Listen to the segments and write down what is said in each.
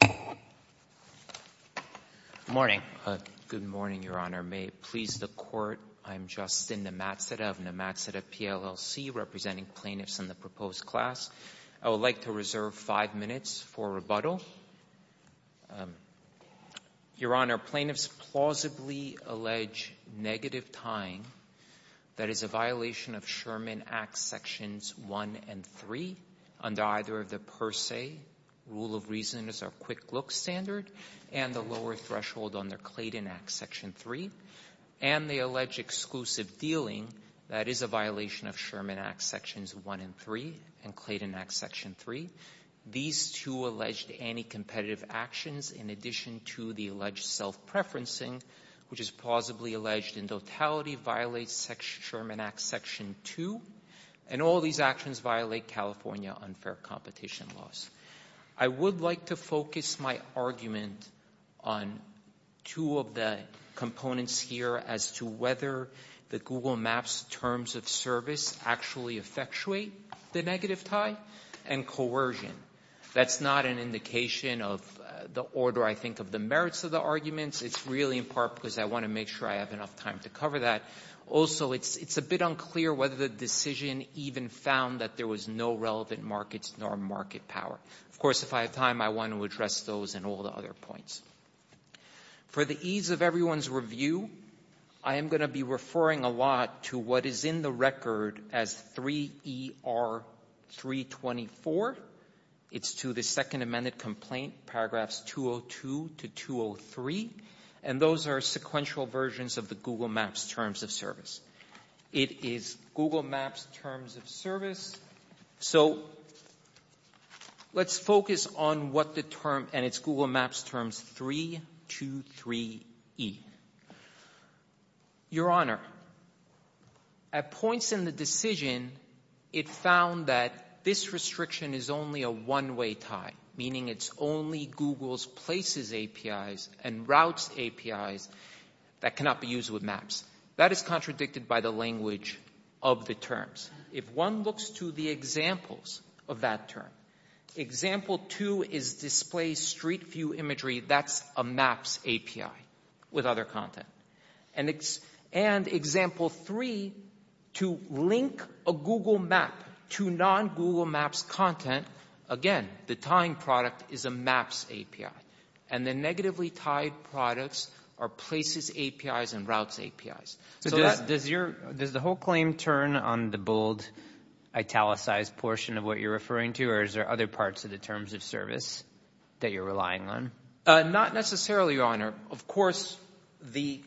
Good morning. Good morning, Your Honor. May it please the Court, I'm Justin Nematseda of Nematseda PLLC, representing plaintiffs in the proposed class. I would like to reserve five minutes for rebuttal. Your Honor, plaintiffs plausibly allege negative tying. That is a violation of Sherman Act Sections 1 and 3, under either of the per se rule of reason as a quick look standard, and the lower threshold under Clayton Act Section 3, and the alleged exclusive dealing, that is a violation of Sherman Act Sections 1 and 3 and Clayton Act Section 3. These two alleged anti-competitive actions, in addition to the alleged self-preferencing, which is plausibly alleged in totality, violates Sherman Act Section 2, and all these actions violate California unfair competition laws. I would like to focus my argument on two of the components here as to whether the Google Maps Terms of Service actually effectuate the negative tie and coercion. That's not an indication of the order I think of the rest of the arguments. It's really in part because I want to make sure I have enough time to cover that. Also, it's a bit unclear whether the decision even found that there was no relevant markets nor market power. Of course, if I have time, I want to address those and all the other points. For the ease of everyone's review, I am going to be referring a lot to what is in the record as 3ER324. It's to the Second Amended Complaint, paragraphs 202 to 203, and those are sequential versions of the Google Maps Terms of Service. It is Google Maps Terms of Service. So let's focus on what the term, and it's Google Maps Terms 323E. Your Honor, at points in the decision, it found that this restriction is only a one-way tie, meaning it's only Google's Places APIs and Routes APIs that cannot be used with Maps. That is contradicted by the language of the terms. If one looks to the examples of that term, example two is display street view imagery, that's a Maps API with other content. And example three, to link a Google Map to non-Google Maps content, again, the tying product is a Maps API. And the negatively tied products are Places APIs and Routes APIs. So does the whole claim turn on the bold, italicized portion of what you're referring to, or is there other parts of the Terms of Service that you're relying on? Not necessarily, Your Honor. Of course, the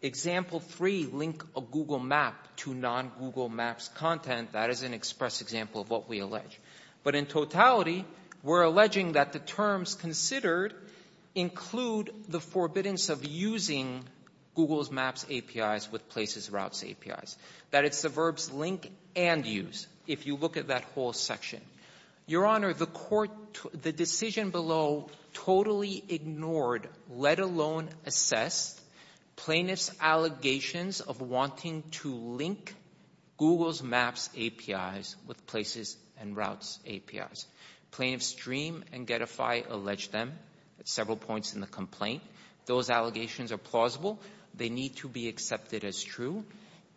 example three, link a Google Map to non-Google Maps content, that is an express example of what we allege. But in totality, we're alleging that the terms considered include the forbiddance of using Google's Maps APIs with Places Routes APIs. That it's the verbs link and use, if you look at that whole section. Your Honor, the court, the decision below totally ignored, let alone assessed, plaintiff's allegations of wanting to link Google's Maps APIs with Places and Routes APIs. Plaintiff's Dream and Getify allege them at several points in the complaint. Those allegations are plausible. They need to be accepted as true.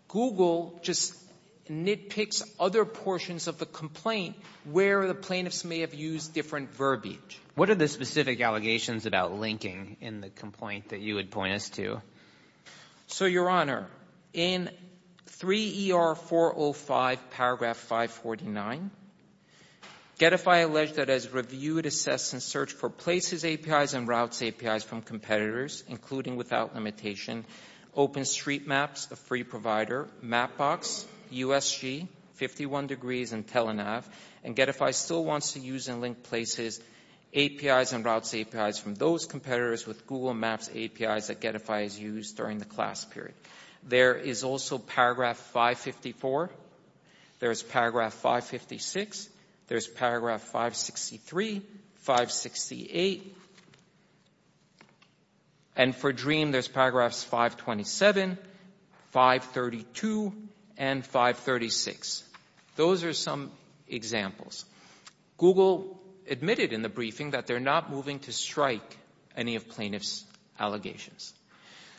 Google just nitpicks other portions of the complaint where the plaintiffs may have used different verbiage. What are the specific allegations about linking in the complaint that you would point us to? So Your Honor, in 3ER405 paragraph 549, Getify alleged that as reviewed, assessed and searched for Places APIs and Routes APIs from competitors, including without limitation, OpenStreetMaps, a free provider, Mapbox, USG, 51 Degrees and TeleNav. And Getify still wants to use and link Places APIs and Routes APIs from those competitors with Google Maps APIs that Getify has used during the class period. There is also paragraph 554. There's paragraph 556. There's paragraph 563, 568. And for Dream, there's paragraphs 527, 532 and 536. Those are some examples. Google admitted in the briefing that they're not moving to strike any of plaintiff's allegations.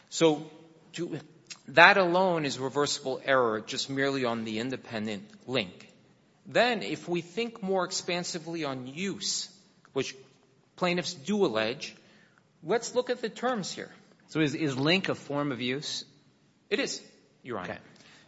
So that alone is reversible error just merely on the independent link. Then if we think more expansively on use, which plaintiffs do allege, let's look at the terms here. So is link a form of use? It is, Your Honor.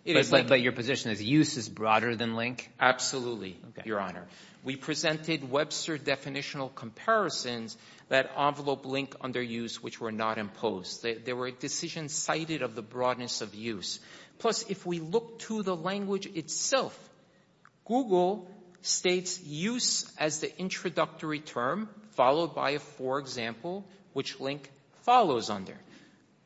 But your position is use is broader than link? Absolutely, Your Honor. We presented Webster definitional comparisons that envelope link under use which were not imposed. There were decisions cited of the broadness of use. Plus, if we look to the language itself, Google states use as the introductory term followed by a for example which link follows under,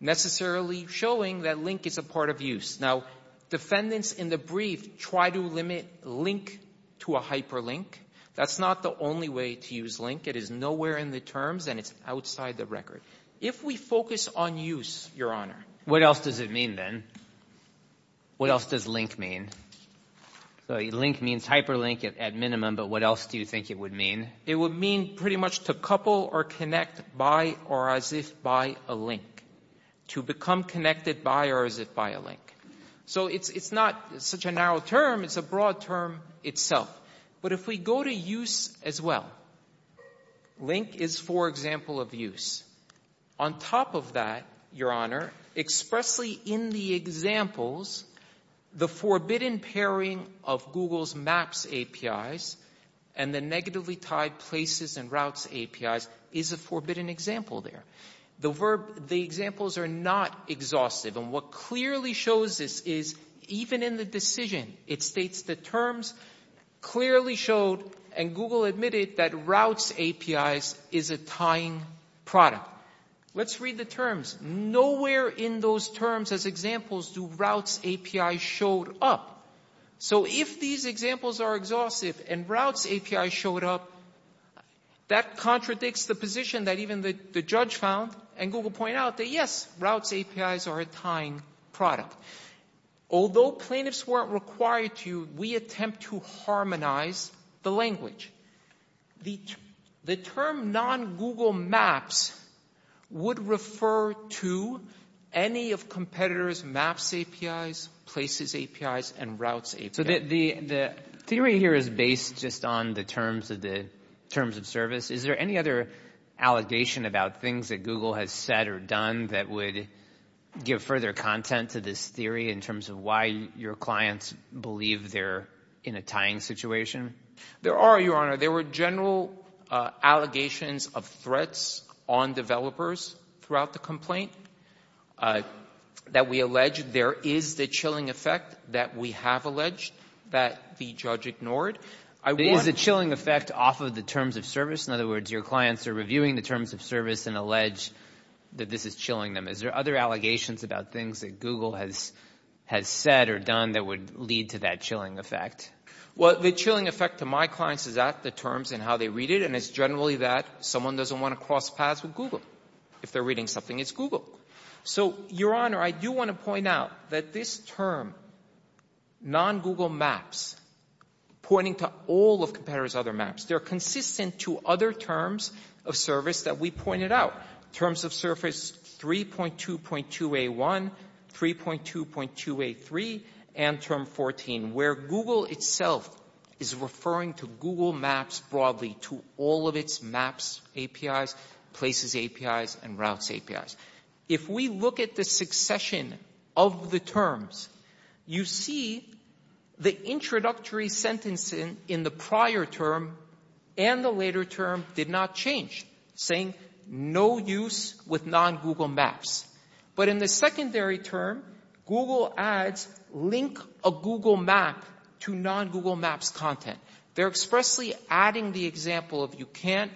necessarily showing that link is a part of use. Now, defendants in the brief try to limit link to a hyperlink. That's not the only way to use link. It is nowhere in the terms and it's outside the record. If we focus on use, Your Honor. What else does it mean, then? What else does link mean? So link means hyperlink at minimum, but what else do you think it would mean? It would mean pretty much to couple or connect by or as if by a link, to become connected by or as if by a link. So it's not such a narrow term. It's a broad term itself. But if we go to use as well, link is, for example, of use. On top of that, Your Honor, expressly in the examples, the forbidden pairing of Google's Maps APIs and the negatively tied Places and Routes APIs is a forbidden example there. The examples are not exhaustive. And what clearly shows this is even in the decision, it states the terms clearly showed and Google admitted that Routes APIs is a tying product. Let's read the terms. Nowhere in those terms as examples do Routes APIs showed up. So if these examples are exhaustive and Routes APIs showed up, that contradicts the position that even the judge found and Google point out that, yes, Routes APIs are a tying product. Although plaintiffs weren't required to, we attempt to harmonize the language. The term non-Google Maps would refer to any of competitors' Maps APIs, Places APIs, and Routes APIs. So the theory here is based just on the terms of service. Is there any other allegation about things that Google has said or done that give further content to this theory in terms of why your clients believe they're in a tying situation? There are, Your Honor. There were general allegations of threats on developers throughout the complaint that we allege there is the chilling effect that we have alleged that the judge ignored. There is a chilling effect off of the terms of service. In other words, your clients are reviewing the terms of service and allege that this is chilling them. Is there other allegations about things that Google has said or done that would lead to that chilling effect? Well, the chilling effect to my clients is that the terms and how they read it, and it's generally that someone doesn't want to cross paths with Google. If they're reading something, it's Google. So, Your Honor, I do want to point out that this term, non-Google Maps, pointing to all of competitors' other maps, they're consistent to other terms of service that we pointed out. Terms of service 3.2.2A1, 3.2.2A3, and Term 14, where Google itself is referring to Google Maps broadly to all of its Maps APIs, Places APIs, and Routes APIs. If we look at the succession of the terms, you see the introductory sentencing in the prior term and the later term did not change, saying no use with non-Google Maps. But in the secondary term, Google ads link a Google Map to non-Google Maps content. They're expressly adding the example of can't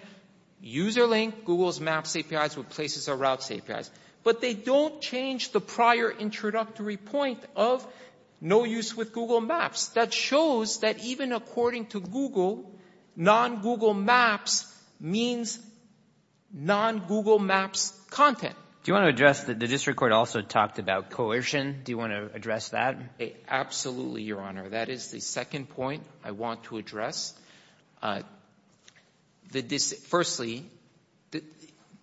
user link Google's Maps APIs with Places or Routes APIs. But they don't change the prior introductory point of no use with Google Maps. That shows that even according to Google, non-Google Maps means non-Google Maps content. Do you want to address the district court also talked about coercion. Do you want to address that? Absolutely, Your Honor. That is the second point I want to address. Firstly,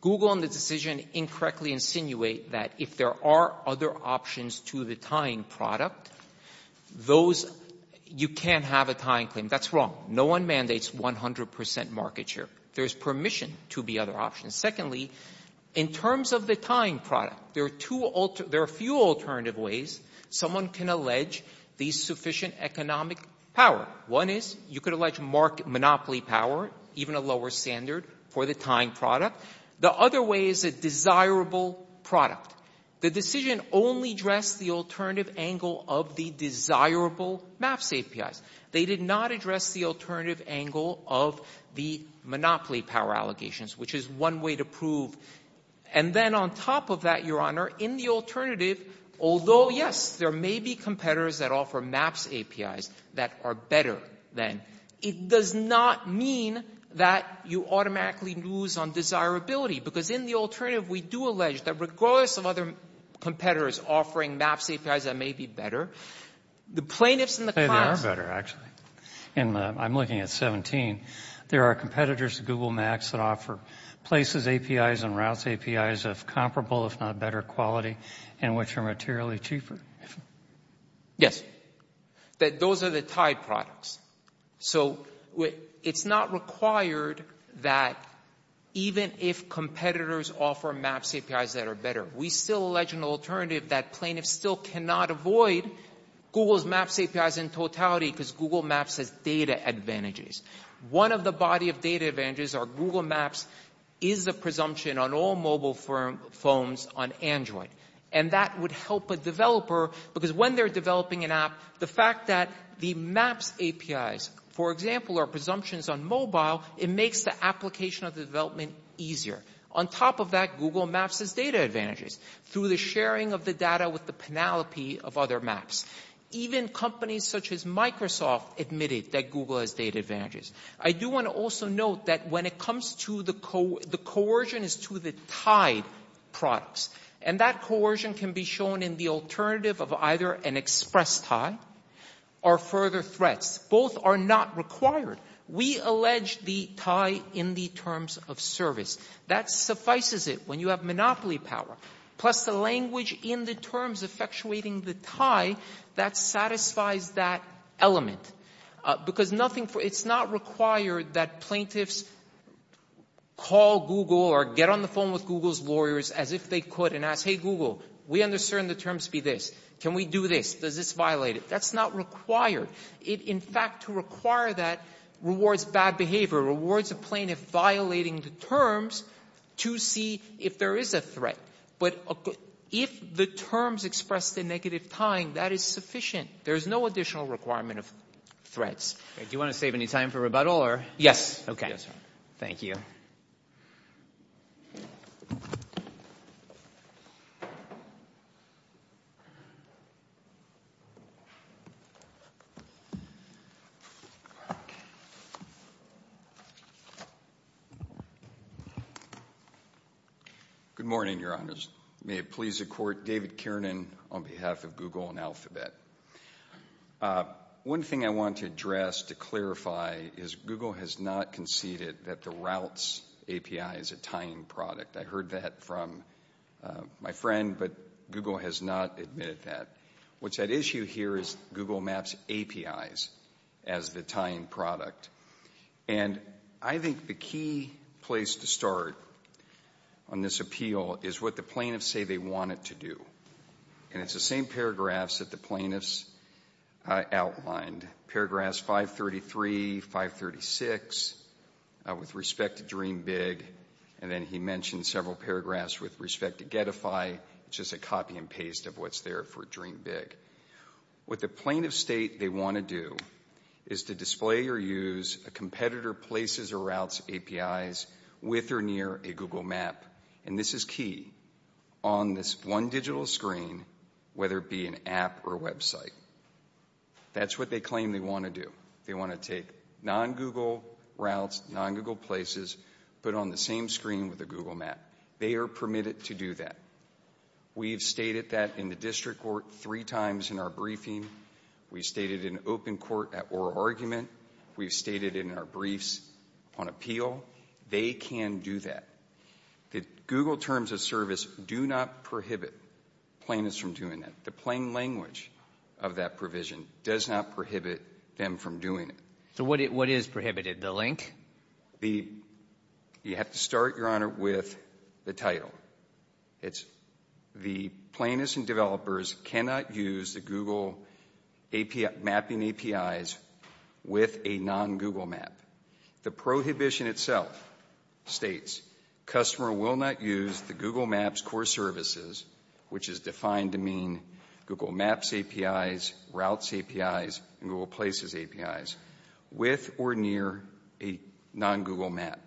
Google and the decision incorrectly insinuate that if there are other options to the tying product, you can't have a tying claim. That's wrong. No one mandates 100% market share. There's permission to be other options. Secondly, in terms of the tying product, there are a few alternative ways someone can allege the sufficient economic power. One is, you could allege market monopoly power, even a lower standard for the tying product. The other way is a desirable product. The decision only addressed the alternative angle of the desirable Maps APIs. They did not address the alternative angle of the monopoly power allegations, which is one way to prove. And then on top of that, Your Honor, in the alternative, although, yes, there may be competitors that offer Maps APIs that are better than, it does not mean that you automatically lose on desirability. Because in the alternative, we do allege that regardless of other competitors offering Maps APIs that may be better, the plaintiffs in the class... They are better, actually. And I'm looking at 17. There are competitors to Google Maps that offer Places APIs and Routes APIs of comparable, if not better quality, and which are materially cheaper. Yes. Those are the tied products. So it's not required that even if competitors offer Maps APIs that are better, we still allege an alternative that plaintiffs still cannot avoid Google's Maps APIs in totality because Google Maps has data advantages. One of the body of data advantages are Google Maps is a presumption on all mobile phones on Android. And that would help a developer because when they're developing an app, the fact that the Maps APIs, for example, are presumptions on mobile, it makes the application of the development easier. On top of that, Google Maps has data advantages through the sharing of the data with the penalty of other Maps. Even companies such as Microsoft admitted that Google has data advantages. I do want to also note that when it comes to the coercion is to the tied products. And that coercion can be shown in the alternative of either an express tie or further threats. Both are not required. We allege the tie in the terms of service. That suffices it. When you have monopoly power, plus the language in the terms effectuating the tie, that satisfies that element. Because nothing it's not required that plaintiffs call Google or get on the phone with Google's lawyers as if they could and ask, hey, Google, we understand the terms be this. Can we do this? Does this violate it? That's not required. In fact, to require that rewards bad behavior, rewards a plaintiff violating the terms to see if there is a threat. But if the terms express the negative tying, that is sufficient. There is no additional requirement of threats. Do you want to save any time for rebuttal? Yes. Okay. Thank you. Good morning, your honors. May it please the court, David Kiernan on behalf of Google and Alphabet. One thing I want to address to clarify is Google has not conceded that the routes API is a tying product. I heard that from my friend, but Google has not admitted that. What's at issue here is Google Maps APIs as the tying product. And I think the key place to start on this appeal is what the plaintiffs say they want it to do. And it's the same paragraphs that the plaintiffs outlined. Paragraphs 533, 536, with respect to Dream Big, and then he mentioned several paragraphs with respect to Getify, which is a copy and paste of what's there for Dream Big. What the plaintiffs state they want to do is to display or use a competitor places or routes APIs with or near a Google Map. And this is key on this one digital screen, whether it be an app or website. That's what they claim they want to do. They want to take non-Google routes, non-Google places, put on the same screen with a Google Map. They are permitted to do that. We've stated that in the district court three times in our briefing. We stated in open court at oral argument. We've stated in our briefs on appeal. They can do that. The Google terms of service do not prohibit plaintiffs from doing that. The plain language of that provision does not prohibit them from doing it. So what is prohibited, the link? You have to start, Your Honor, with the title. It's the plaintiffs and developers cannot use the Google mapping APIs with a non-Google Map. The prohibition itself states customer will not use the Google Maps core services, which is defined to mean Google Maps APIs, routes APIs, and Google places APIs, with or near a non-Google Map.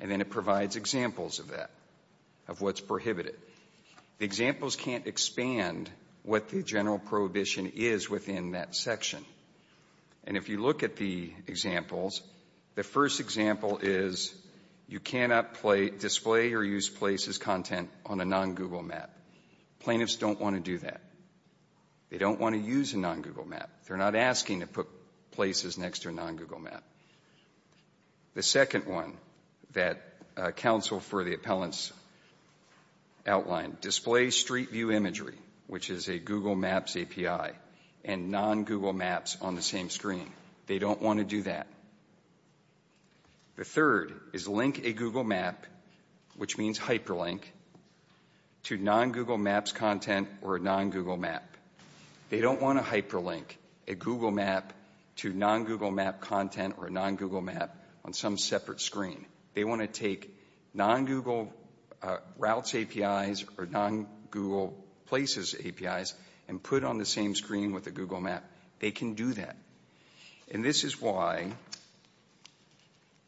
And then it provides examples of that, of what's prohibited. The examples can't expand what the general prohibition is within that section. And if you look at the examples, the first example is you cannot display or use places content on a non-Google Map. Plaintiffs don't want to do that. They don't want to use a non-Google Map. They're not asking to put The second one that counsel for the appellants outlined, display street view imagery, which is a Google Maps API, and non-Google Maps on the same screen. They don't want to do that. The third is link a Google Map, which means hyperlink, to non-Google Maps content or a non-Google Map. They don't want to hyperlink a Google Map to non-Google Map content or a non-Google Map on some separate screen. They want to take non-Google routes APIs or non-Google places APIs and put on the same screen with a Google Map. They can do that. And this is why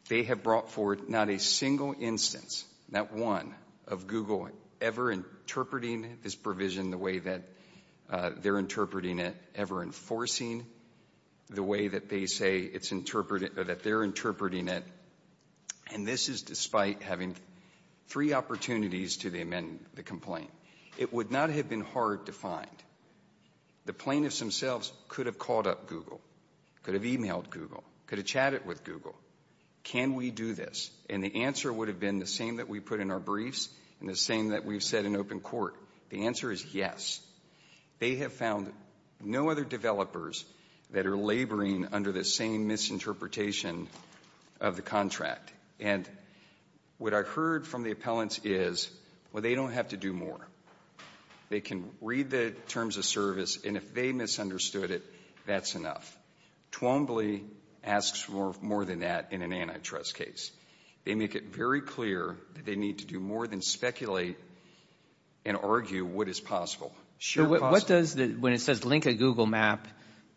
they have brought forward not a single instance, not one, of Google ever interpreting this provision the way that they're interpreting it, ever enforcing the way that they say it's or that they're interpreting it. And this is despite having three opportunities to amend the complaint. It would not have been hard to find. The plaintiffs themselves could have called up Google, could have emailed Google, could have chatted with Google. Can we do this? And the answer would have been the same that we put in our briefs and the same that we've said in open court. The answer is yes. They have found no other developers that are laboring under the same misinterpretation of the contract. And what I heard from the appellants is, well, they don't have to do more. They can read the terms of service, and if they misunderstood it, that's enough. Twombly asks for more than that in an antitrust case. They make it very clear that they would argue what is possible. What does, when it says link a Google map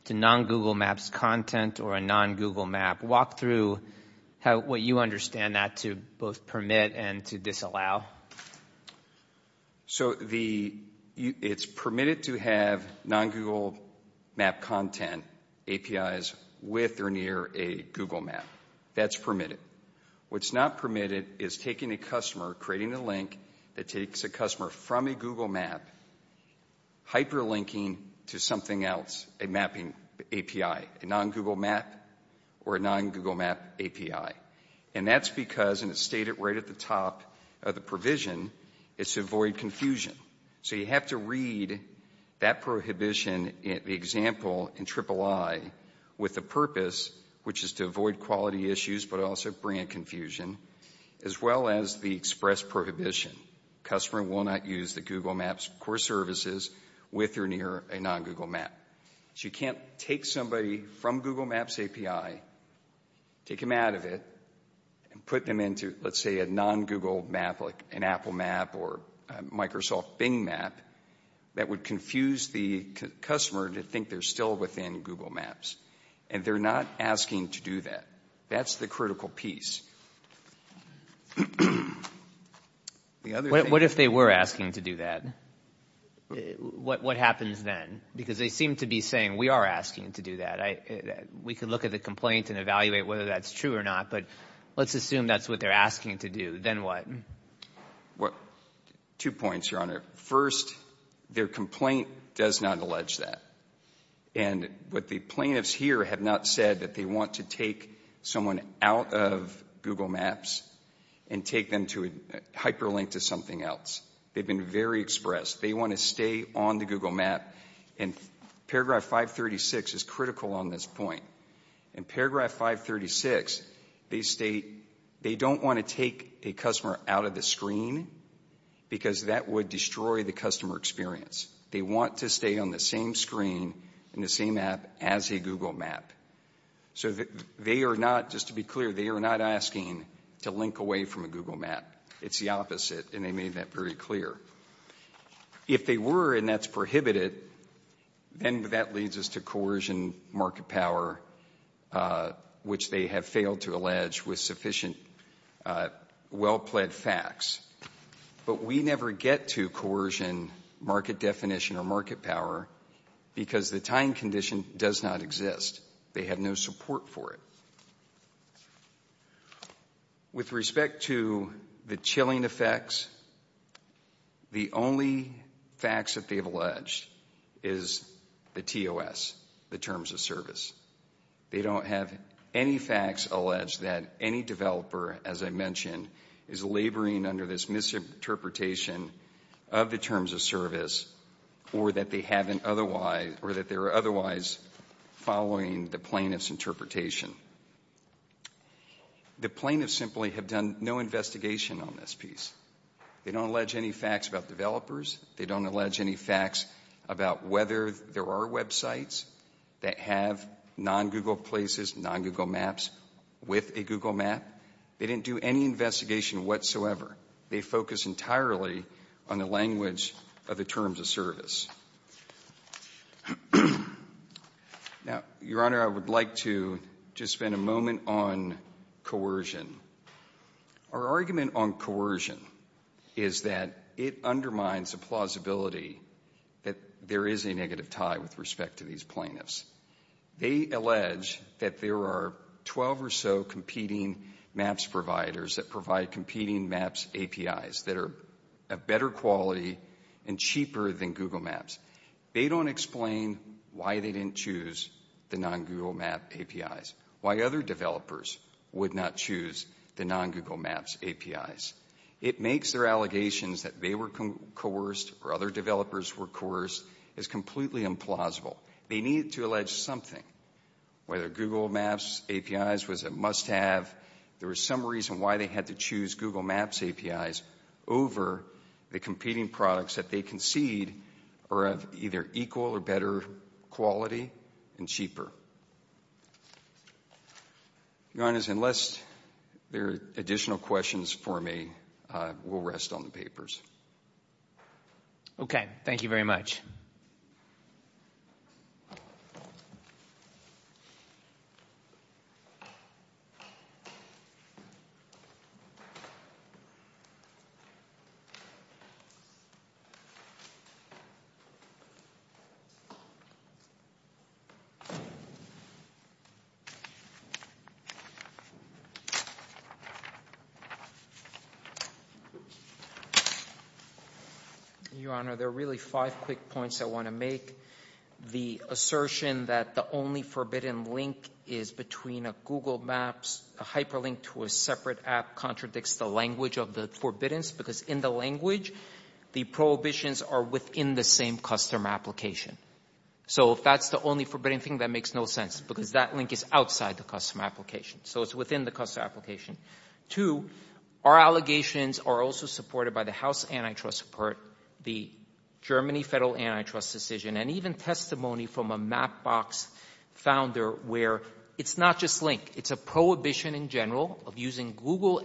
to non-Google maps content or a non-Google map, walk through what you understand that to both permit and to disallow? So it's permitted to have non-Google map content APIs with or near a Google map. That's permitted. What's not permitted is taking a customer, creating a link that takes a customer from a Google map, hyperlinking to something else, a mapping API, a non-Google map or a non-Google map API. And that's because, and it's stated right at the top of the provision, it's to avoid confusion. So you have to read that prohibition, the example in III with the purpose which is to bring a confusion, as well as the express prohibition. Customer will not use the Google maps core services with or near a non-Google map. So you can't take somebody from Google maps API, take them out of it, and put them into, let's say, a non-Google map like an Apple map or Microsoft Bing map that would confuse the customer to think they're still within Google maps. And they're not asking to do that. That's the critical piece. The other thing What if they were asking to do that? What happens then? Because they seem to be saying we are asking to do that. We could look at the complaint and evaluate whether that's true or not. But let's assume that's what they're asking to do. Then what? Two points, Your Honor. First, their complaint does not allege that. And what the plaintiffs here have not said that they want to take someone out of Google maps and take them to hyperlink to something else. They've been very express. They want to stay on the Google map. And paragraph 536 is critical on this point. In paragraph 536, they state they don't want to take a customer out of the screen because that would destroy the customer experience. They want to stay on the same screen and the same app as a Google map. So they are not, just to be clear, they are not asking to link away from a Google map. It's the opposite. And they made that very clear. If they were, and that's prohibited, then that leads us to coercion, market power, which they have failed to allege with sufficient well-plaid facts. But we never get to coercion, market definition, or market power because the time condition does not exist. They have no support for it. With respect to the chilling effects, the only facts that they've alleged is the TOS, the terms of service. They don't have any facts allege that any developer, as I mentioned, is laboring under this misinterpretation of the terms of service or that they haven't otherwise, or that they're otherwise following the plaintiff's interpretation. The plaintiffs simply have done no investigation on this piece. They don't allege any facts about They don't allege any facts about whether there are websites that have non-Google places, non-Google maps with a Google map. They didn't do any investigation whatsoever. They focused entirely on the language of the terms of service. Now, Your Honor, I would like to just spend a moment on coercion. Our argument on coercion is that it undermines the plausibility that there is a negative tie with respect to these plaintiffs. They allege that there are 12 or so competing maps providers that provide competing maps APIs that are of better quality and cheaper than Google maps. They don't explain why they didn't choose the non-Google map APIs, why other developers would not choose the non-Google maps APIs. It makes their allegations that they were coerced or other developers were coerced as completely implausible. They need to allege something. Whether Google maps APIs was a must have, there was some reason why they had to choose Google maps APIs over the competing products that they concede are of either equal or better quality and cheaper. Your Honor, unless there are additional questions for me, we'll rest on the papers. Okay. Thank you very much. Your Honor, there are really five quick points I want to make. The assertion that the only forbidden link is between a Google maps, a hyperlink to a separate app contradicts the language of the forbiddance, because in the language, the prohibitions are within the same customer application. So if that's the only forbidden thing, that makes no sense, because that link is outside the customer application. So it's within the customer application. Two, our allegations are also supported by the House Antitrust Report, the Germany Federal Antitrust Decision, and even testimony from a Mapbox founder where it's not just link. It's a prohibition in general of using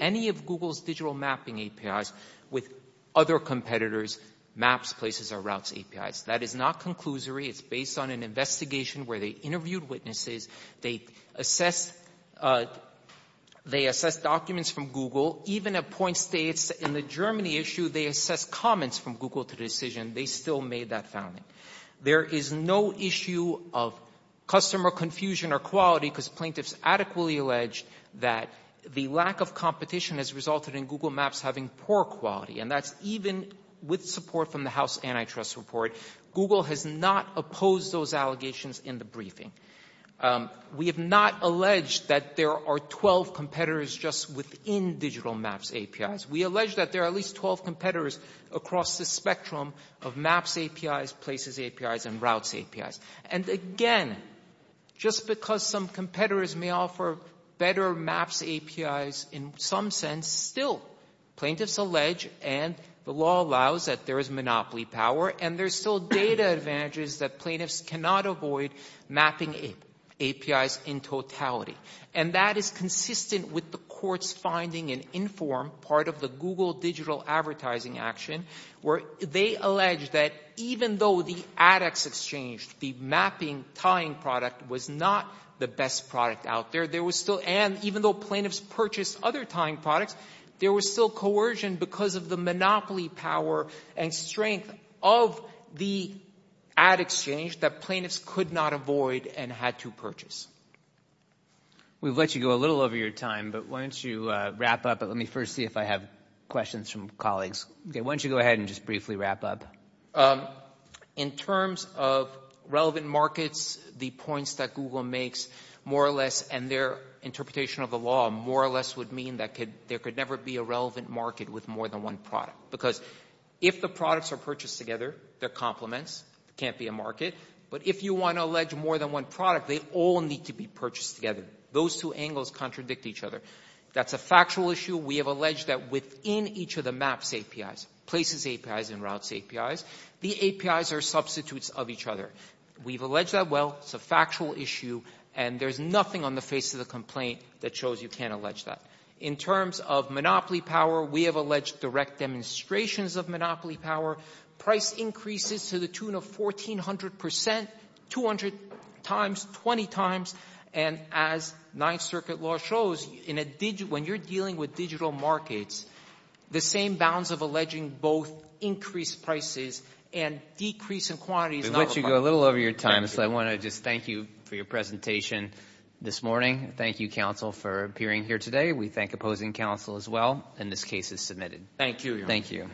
any of Google's digital mapping APIs with other competitors' maps, places, or routes APIs. That is not conclusory. It's based on an investigation where they interviewed witnesses. They assessed documents from Google. Even at point states in the Germany issue, they assessed comments from Google to the decision. They still made that founding. There is no issue of customer confusion or quality, because plaintiffs adequately alleged that the lack of competition has resulted in Google maps having poor quality. And that's even with support from the House Antitrust Report. Google has not opposed those allegations in the briefing. We have not alleged that there are 12 competitors just within digital maps APIs. We allege that there are at least 12 competitors across the spectrum of maps APIs, places APIs, and routes APIs. And again, just because some competitors may offer better maps APIs in some sense, still plaintiffs allege, and the law allows that there is monopoly power, and there's still data advantages that plaintiffs cannot avoid mapping APIs in totality. And that is consistent with the court's finding in INFORM, part of the Google Digital Advertising Action, where they allege that even though the ad exchange, the mapping, tying product was not the best product out there, there was still, and even though plaintiffs purchased other tying products, there was still coercion because of the monopoly power and strength of the ad exchange that plaintiffs could not avoid and had to purchase. We've let you go a little over your time, but why don't you wrap up. Let me first see if I have questions from colleagues. Why don't you go ahead and just briefly wrap up. In terms of relevant markets, the points that Google makes more or less, and their interpretation of the law more or less would mean that there could never be a relevant market with more than one product. Because if the products are purchased together, they're complements. It can't be a market. But if you want to allege more than one product, they all need to be purchased together. Those two angles contradict each other. That's a factual issue. We have alleged that within each of the maps APIs, places APIs, and routes APIs, the APIs are substitutes of each other. We've alleged that. Well, it's a factual issue, and there's nothing on the face of the complaint that shows you can't allege that. In terms of monopoly power, we have alleged direct demonstrations of monopoly power, price increases to the tune of 1,400 percent, 200 times, 20 times. And as Ninth Circuit law shows, in a digital — when you're dealing with digital markets, the same bounds of alleging both increased prices and decrease in quantities — We've let you go a little over your time, so I want to just thank you for your presentation this morning. Thank you, counsel, for appearing here today. We thank opposing counsel as well. And this case is submitted. Thank you, Your Honor. Thank you.